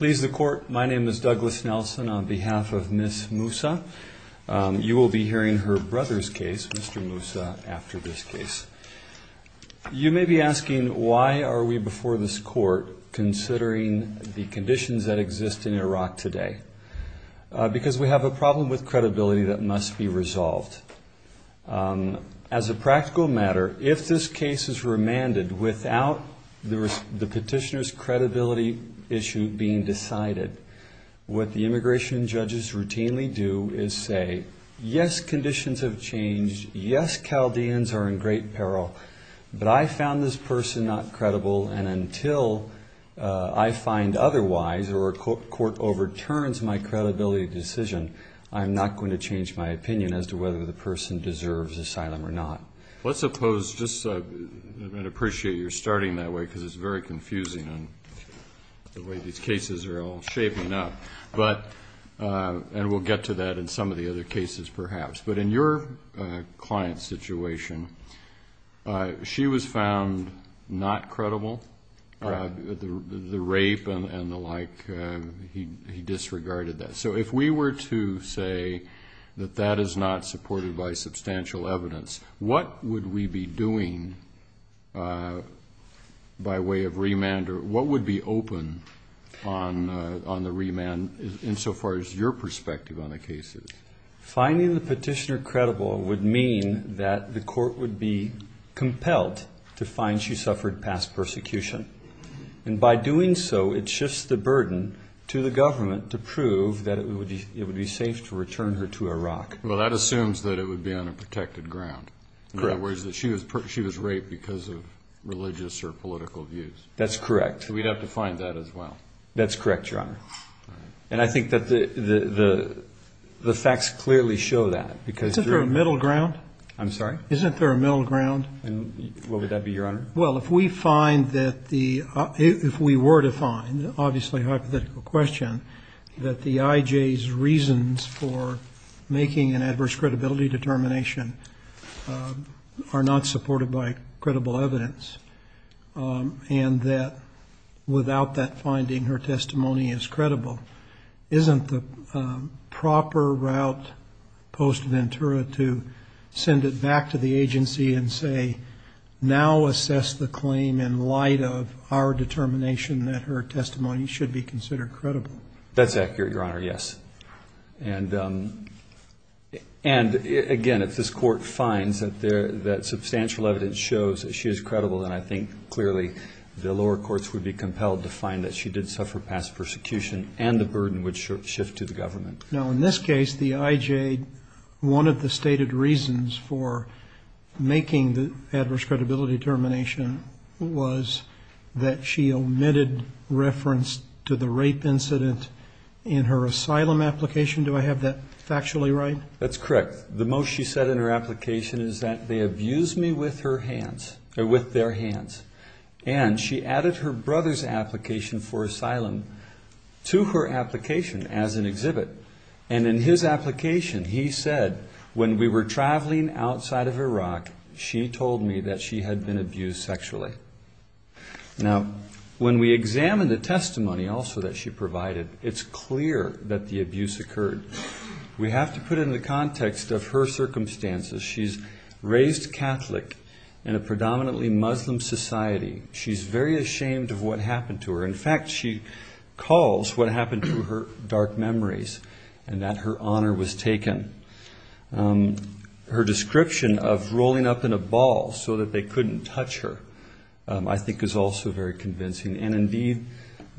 Please, the Court, my name is Douglas Nelson on behalf of Ms. Mousa. You will be hearing her brother's case, Mr. Mousa, after this case. You may be asking, why are we before this Court considering the conditions that exist in Iraq today? Because we have a problem with credibility that must be resolved. As a practical matter, if this case is remanded without the petitioner's credibility issue being decided, what the immigration judges routinely do is say, yes, conditions have changed, yes, Chaldeans are in great peril, but I found this person not credible, and until I find otherwise or a court overturns my credibility decision, I'm not going to change my opinion as to whether the person deserves asylum or not. Let's suppose, just I'd appreciate your starting that way because it's very confusing, the way these cases are all shaping up, and we'll get to that in some of the other cases perhaps. But in your client's situation, she was found not credible. The rape and the like, he disregarded that. So if we were to say that that is not supported by substantial evidence, what would we be doing by way of remand or what would be open on the remand insofar as your perspective on the cases? Finding the petitioner credible would mean that the court would be compelled to find she suffered past persecution. And by doing so, it shifts the burden to the government to prove that it would be safe to return her to Iraq. Well, that assumes that it would be on a protected ground. Correct. In other words, that she was raped because of religious or political views. That's correct. So we'd have to find that as well. That's correct, Your Honor. And I think that the facts clearly show that. Isn't there a middle ground? I'm sorry? Isn't there a middle ground? What would that be, Your Honor? Well, if we were to find, obviously a hypothetical question, that the IJ's reasons for making an adverse credibility determination are not supported by credible evidence and that without that finding her testimony is credible, isn't the proper route posed to Ventura to send it back to the agency and say, now assess the claim in light of our determination that her testimony should be considered credible? That's accurate, Your Honor, yes. And, again, if this court finds that substantial evidence shows that she is credible, then I think clearly the lower courts would be compelled to find that she did suffer past persecution and the burden would shift to the government. Now, in this case, the IJ, one of the stated reasons for making the adverse credibility determination was that she omitted reference to the rape incident in her asylum application. Do I have that factually right? That's correct. The most she said in her application is that they abused me with their hands and she added her brother's application for asylum to her application as an exhibit. And in his application he said, when we were traveling outside of Iraq, she told me that she had been abused sexually. Now, when we examine the testimony also that she provided, it's clear that the abuse occurred. We have to put it in the context of her circumstances. She's raised Catholic in a predominantly Muslim society. She's very ashamed of what happened to her. In fact, she calls what happened to her dark memories and that her honor was taken. Her description of rolling up in a ball so that they couldn't touch her I think is also very convincing. And, indeed,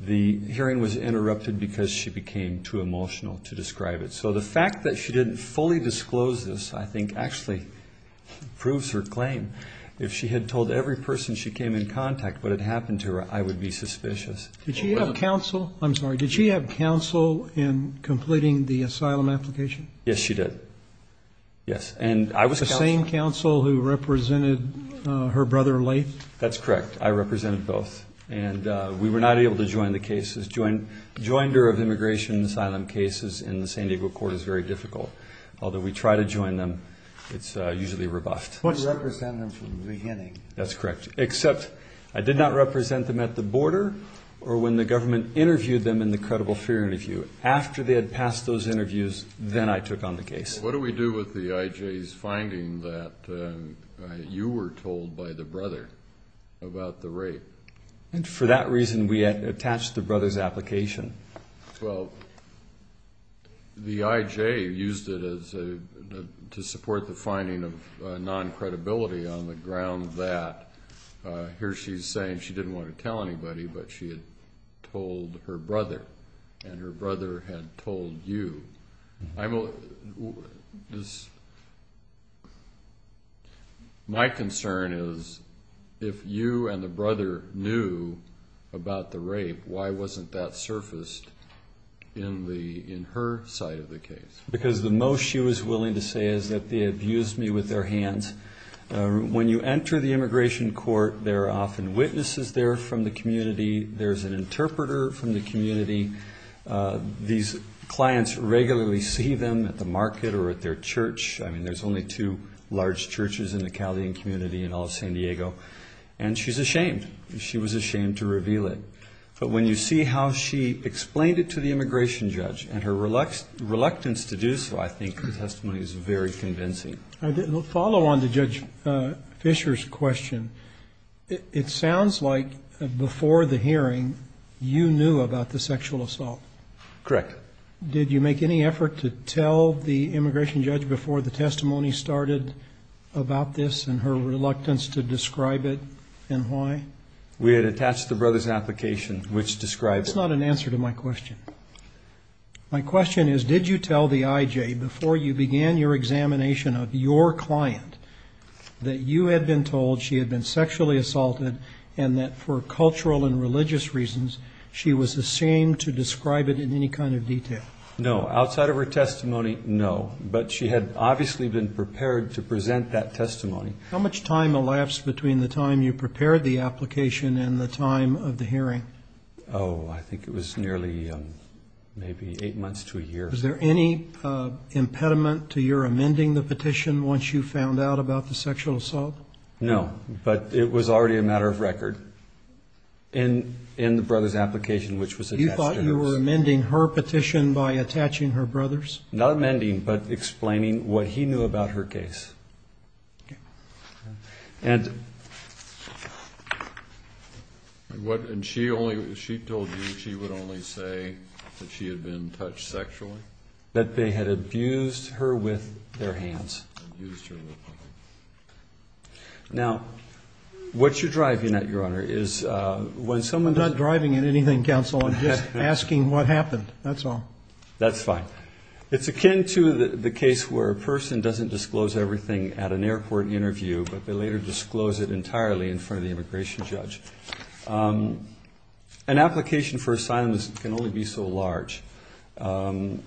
the hearing was interrupted because she became too emotional to describe it. So the fact that she didn't fully disclose this I think actually proves her claim. If she had told every person she came in contact with what had happened to her, I would be suspicious. Did she have counsel? I'm sorry. Did she have counsel in completing the asylum application? Yes, she did. Yes. And I was counsel. The same counsel who represented her brother Lathe? That's correct. I represented both. And we were not able to join the cases. Joinder of immigration and asylum cases in the San Diego court is very difficult. Although we try to join them, it's usually rebuffed. But you represented them from the beginning. That's correct, except I did not represent them at the border or when the government interviewed them in the credible fear interview. After they had passed those interviews, then I took on the case. What do we do with the IJ's finding that you were told by the brother about the rape? For that reason, we attached the brother's application. Well, the IJ used it to support the finding of non-credibility on the ground that here she's saying she didn't want to tell anybody, but she had told her brother, and her brother had told you. My concern is if you and the brother knew about the rape, why wasn't that surfaced in her side of the case? Because the most she was willing to say is that they abused me with their hands. When you enter the immigration court, there are often witnesses there from the community. There's an interpreter from the community. These clients regularly see them at the market or at their church. I mean, there's only two large churches in the Calvin community in all of San Diego. And she's ashamed. She was ashamed to reveal it. But when you see how she explained it to the immigration judge and her reluctance to do so, I think her testimony is very convincing. We'll follow on to Judge Fisher's question. It sounds like before the hearing, you knew about the sexual assault. Correct. Did you make any effort to tell the immigration judge before the testimony started about this and her reluctance to describe it and why? We had attached the brother's application, which described it. That's not an answer to my question. My question is, did you tell the IJ before you began your examination of your client that you had been told she had been sexually assaulted and that for cultural and religious reasons she was ashamed to describe it in any kind of detail? No. Outside of her testimony, no. But she had obviously been prepared to present that testimony. How much time elapsed between the time you prepared the application and the time of the hearing? Was there any impediment to your amending the petition once you found out about the sexual assault? No, but it was already a matter of record in the brother's application, which was attached to hers. You thought you were amending her petition by attaching her brother's? Not amending, but explaining what he knew about her case. And she told you she would only say that she had been touched sexually? That they had abused her with their hands. Now, what you're driving at, Your Honor, is when someone does that. I'm not driving at anything, counsel. I'm just asking what happened. That's all. That's fine. It's akin to the case where a person doesn't disclose everything at an airport interview, but they later disclose it entirely in front of the immigration judge. An application for asylum can only be so large. And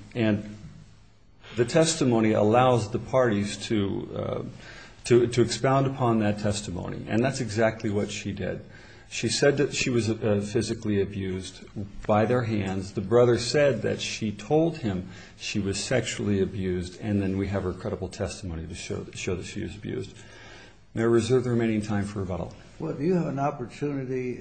the testimony allows the parties to expound upon that testimony. And that's exactly what she did. She said that she was physically abused by their hands. The brother said that she told him she was sexually abused, and then we have her credible testimony to show that she was abused. May I reserve the remaining time for rebuttal? Well, do you have an opportunity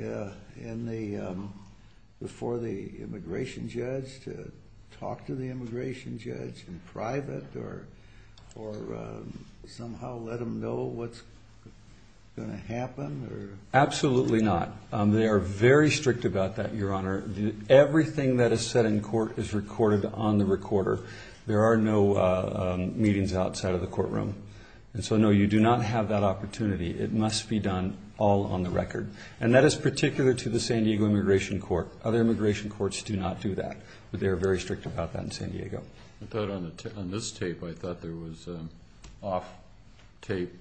before the immigration judge to talk to the immigration judge in private or somehow let them know what's going to happen? Absolutely not. They are very strict about that, Your Honor. Everything that is said in court is recorded on the recorder. There are no meetings outside of the courtroom. And so, no, you do not have that opportunity. It must be done all on the record. And that is particular to the San Diego Immigration Court. Other immigration courts do not do that, but they are very strict about that in San Diego. I thought on this tape, I thought there was an off-tape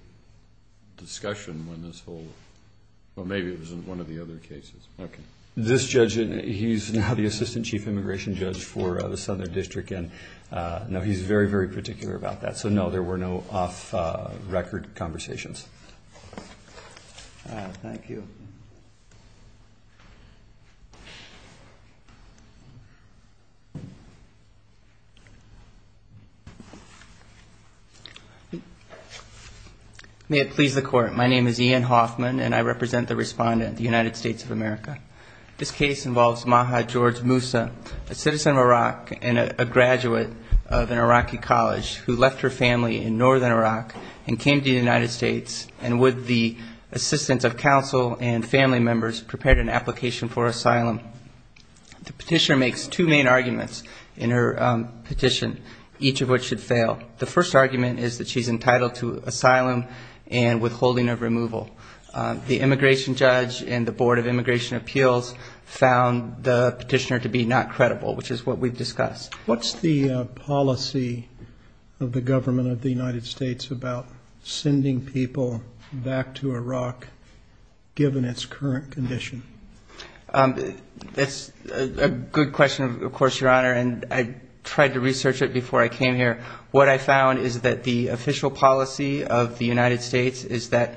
discussion when this whole – well, maybe it was in one of the other cases. Okay. This judge, he's now the assistant chief immigration judge for the Southern District. And, no, he's very, very particular about that. So, no, there were no off-record conversations. Thank you. May it please the Court, my name is Ian Hoffman, and I represent the respondent of the United States of America. This case involves Maha George Moussa, a citizen of Iraq and a graduate of an Iraqi college who left her family in northern Iraq and came to the United States and, with the assistance of counsel and family members, prepared an application for asylum. The petitioner makes two main arguments in her petition, each of which should fail. The first argument is that she's entitled to asylum and withholding of removal. The immigration judge and the Board of Immigration Appeals found the petitioner to be not credible, which is what we've discussed. What's the policy of the government of the United States about sending people back to Iraq, given its current condition? That's a good question, of course, Your Honor, and I tried to research it before I came here. What I found is that the official policy of the United States is that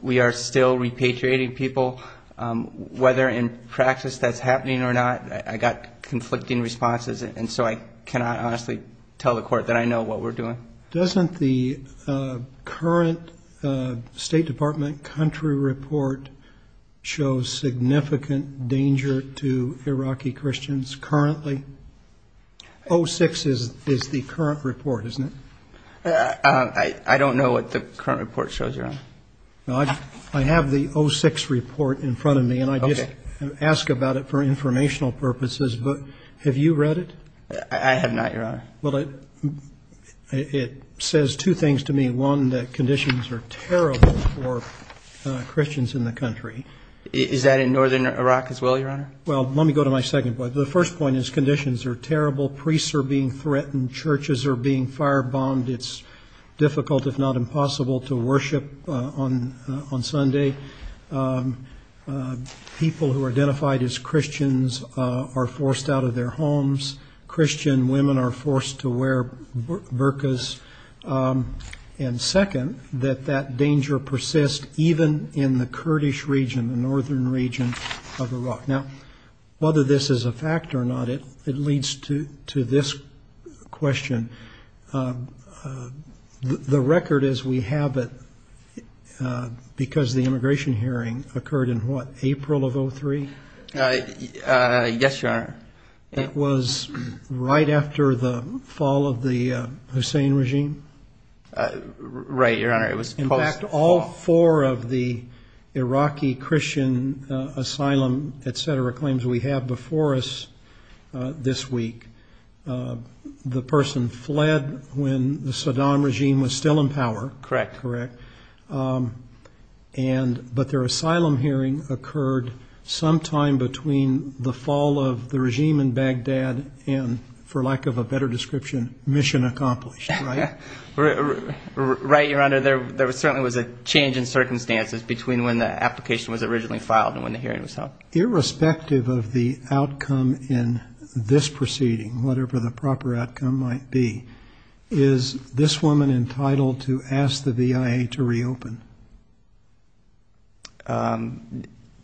we are still repatriating people. Whether in practice that's happening or not, I got conflicting responses, and so I cannot honestly tell the Court that I know what we're doing. Doesn't the current State Department country report show significant danger to Iraqi Christians currently? 06 is the current report, isn't it? I don't know what the current report shows, Your Honor. I have the 06 report in front of me, and I just ask about it for informational purposes. But have you read it? I have not, Your Honor. Well, it says two things to me. One, that conditions are terrible for Christians in the country. Is that in northern Iraq as well, Your Honor? Well, let me go to my second point. The first point is conditions are terrible. Priests are being threatened. Churches are being firebombed. It's difficult, if not impossible, to worship on Sunday. People who are identified as Christians are forced out of their homes. Christian women are forced to wear burqas. And second, that that danger persists even in the Kurdish region, the northern region of Iraq. Now, whether this is a fact or not, it leads to this question. The record as we have it, because the immigration hearing occurred in what, April of 03? Yes, Your Honor. That was right after the fall of the Hussein regime? Right, Your Honor. In fact, all four of the Iraqi Christian asylum, et cetera, claims we have before us this week, the person fled when the Saddam regime was still in power. Correct. Correct. But their asylum hearing occurred sometime between the fall of the regime in Baghdad and, for lack of a better description, mission accomplished, right? Right, Your Honor. There certainly was a change in circumstances between when the application was originally filed and when the hearing was held. Irrespective of the outcome in this proceeding, whatever the proper outcome might be, is this woman entitled to ask the VIA to reopen?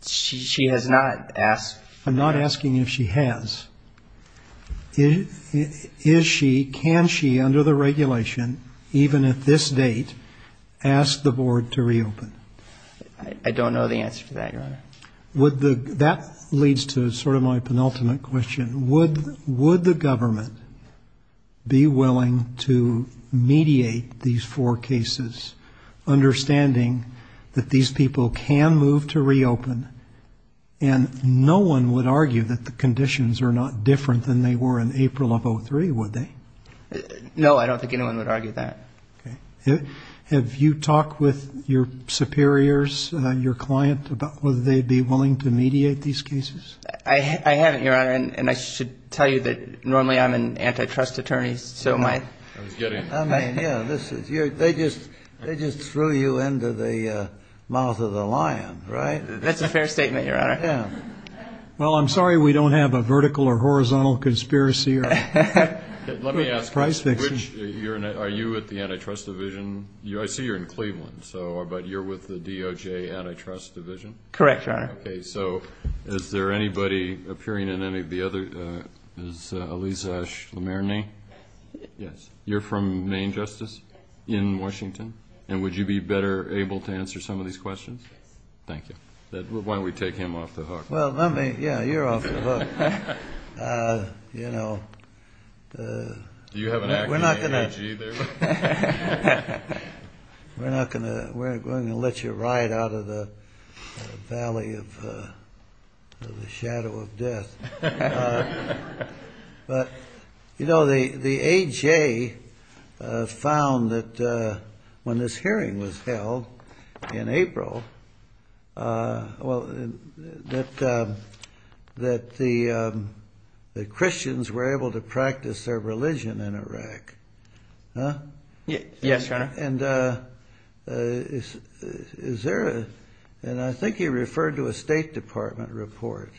She has not asked. I'm not asking if she has. Is she, can she, under the regulation, even at this date, ask the board to reopen? I don't know the answer to that, Your Honor. That leads to sort of my penultimate question. Would the government be willing to mediate these four cases, understanding that these people can move to reopen, and no one would argue that the conditions are not different than they were in April of 2003, would they? No, I don't think anyone would argue that. Okay. Have you talked with your superiors, your client, about whether they'd be willing to mediate these cases? I haven't, Your Honor, and I should tell you that normally I'm an antitrust attorney, so my ---- I mean, yeah, they just threw you into the mouth of the lion, right? That's a fair statement, Your Honor. Well, I'm sorry we don't have a vertical or horizontal conspiracy or price fiction. Let me ask this. Are you at the antitrust division? I see you're in Cleveland, but you're with the DOJ antitrust division? Correct, Your Honor. Okay. So is there anybody appearing in any of the other? Is Alizash Lamarney? Yes. You're from Main Justice in Washington? Yes. And would you be better able to answer some of these questions? Yes. Thank you. Why don't we take him off the hook? Well, let me. Yeah, you're off the hook. You know, we're not going to let you ride out of the valley of ---- of the shadow of death. But, you know, the AJ found that when this hearing was held in April, well, that the Christians were able to practice their religion in Iraq. Yes, Your Honor. And I think you referred to a State Department report.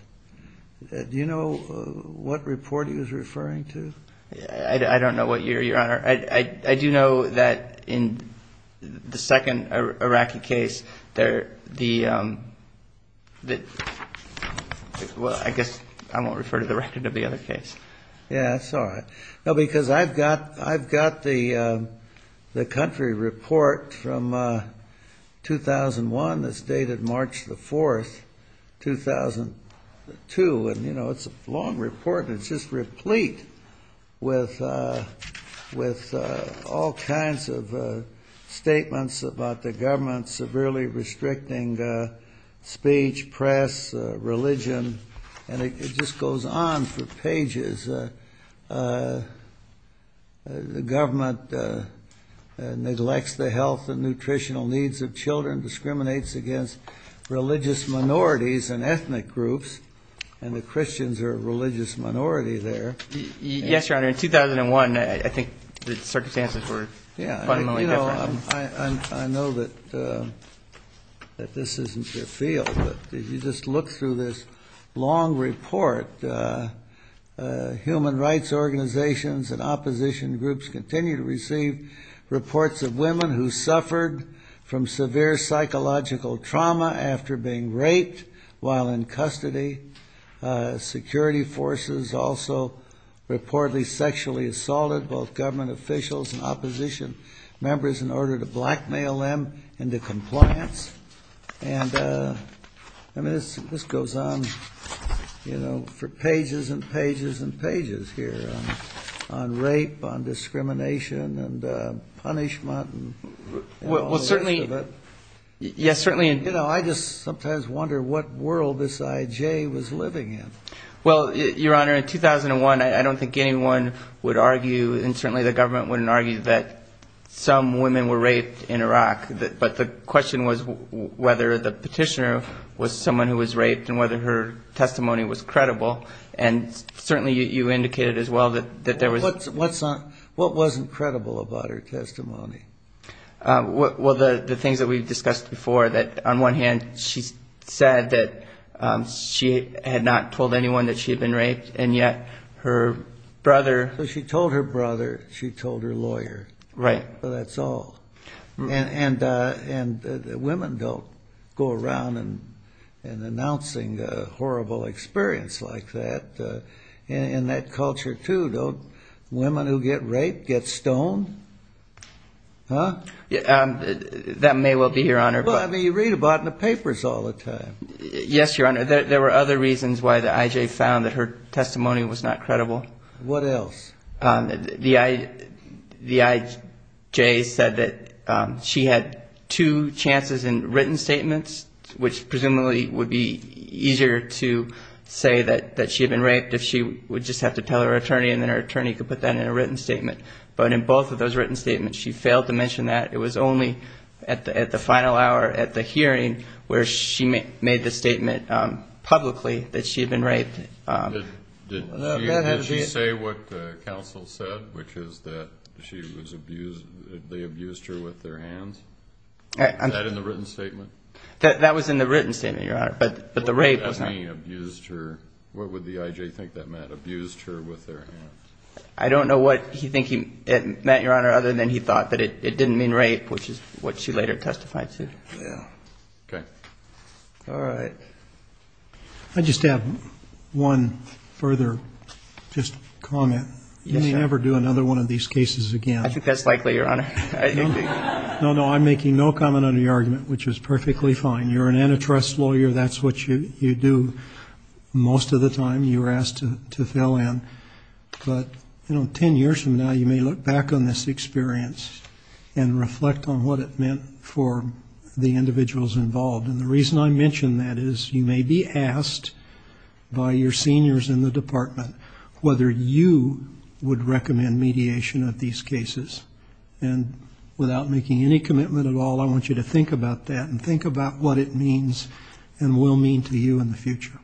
Do you know what report he was referring to? I don't know what, Your Honor. I do know that in the second Iraqi case, the ---- well, I guess I won't refer to the record of the other case. Yeah, that's all right. No, because I've got the country report from 2001 that's dated March the 4th, 2002. And, you know, it's a long report and it's just replete with all kinds of statements about the government severely restricting speech, press, religion. And it just goes on for pages. The government neglects the health and nutritional needs of children, discriminates against religious minorities and ethnic groups, and the Christians are a religious minority there. Yes, Your Honor. In 2001, I think the circumstances were fundamentally different. I know that this isn't your field, but if you just look through this long report, human rights organizations and opposition groups continue to receive reports of women who suffered from severe psychological trauma after being raped while in custody. Security forces also reportedly sexually assaulted both government officials and opposition members in order to blackmail them into compliance. And, I mean, this goes on, you know, for pages and pages and pages here on rape, on discrimination and punishment and all the rest of it. Well, certainly, yes, certainly. You know, I just sometimes wonder what world this IJ was living in. Well, Your Honor, in 2001, I don't think anyone would argue, and certainly the government wouldn't argue, that some women were raped in Iraq. But the question was whether the petitioner was someone who was raped and whether her testimony was credible. And certainly you indicated as well that there was. What wasn't credible about her testimony? Well, the things that we've discussed before, that on one hand, she said that she had not told anyone that she had been raped, and yet her brother. So she told her brother. She told her lawyer. Right. That's all. And women don't go around and announcing a horrible experience like that. In that culture, too, don't women who get raped get stoned? That may well be, Your Honor. Well, I mean, you read about it in the papers all the time. Yes, Your Honor. There were other reasons why the IJ found that her testimony was not credible. What else? The IJ said that she had two chances in written statements, which presumably would be easier to say that she had been raped if she would just have to tell her attorney, and then her attorney could put that in a written statement. But in both of those written statements, she failed to mention that. It was only at the final hour at the hearing where she made the statement publicly that she had been raped. Did she say what the counsel said, which is that they abused her with their hands? Was that in the written statement? That was in the written statement, Your Honor, but the rape was not. What would that mean, abused her? What would the IJ think that meant, abused her with their hands? I don't know what he think it meant, Your Honor, other than he thought that it didn't mean rape, which is what she later testified to. Okay. All right. I just have one further just comment. Yes, sir. Can you ever do another one of these cases again? I think that's likely, Your Honor. No, no, I'm making no comment on your argument, which is perfectly fine. You're an antitrust lawyer. That's what you do most of the time. You're asked to fill in. But, you know, 10 years from now, you may look back on this experience and reflect on what it meant for the individuals involved. And the reason I mention that is you may be asked by your seniors in the department whether you would recommend mediation of these cases. And without making any commitment at all, I want you to think about that and think about what it means and will mean to you in the future.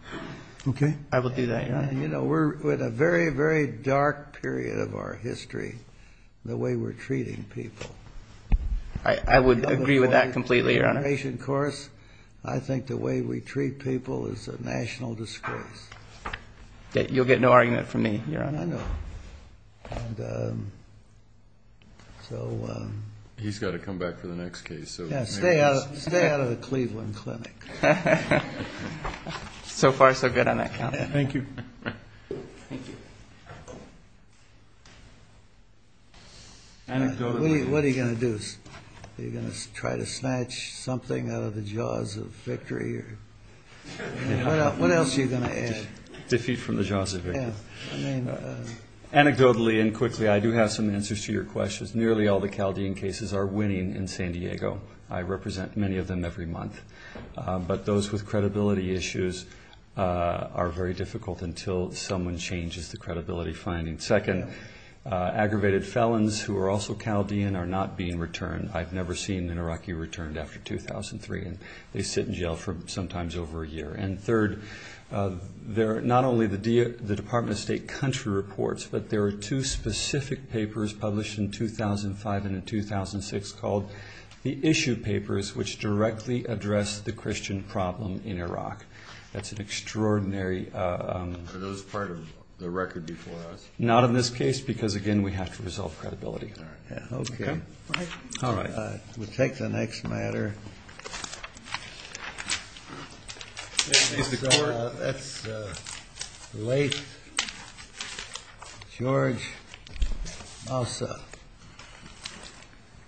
Okay? I will do that, Your Honor. You know, we're in a very, very dark period of our history, the way we're treating people. I would agree with that completely, Your Honor. I think the way we treat people is a national disgrace. You'll get no argument from me, Your Honor. I know. He's got to come back for the next case. Yeah, stay out of the Cleveland Clinic. So far, so good on that count. Thank you. What are you going to do? Are you going to try to snatch something out of the jaws of victory? What else are you going to add? Defeat from the jaws of victory. Anecdotally and quickly, I do have some answers to your questions. Nearly all the Chaldean cases are winning in San Diego. I represent many of them every month. But those with credibility issues are very difficult until someone changes the credibility finding. Second, aggravated felons who are also Chaldean are not being returned. I've never seen an Iraqi returned after 2003, and they sit in jail for sometimes over a year. And third, not only the Department of State country reports, but there are two specific papers published in 2005 and in 2006 called the issue papers, which directly address the Christian problem in Iraq. That's an extraordinary. Are those part of the record before us? Not in this case because, again, we have to resolve credibility. Okay. All right. We'll take the next matter. That's late George Mousa.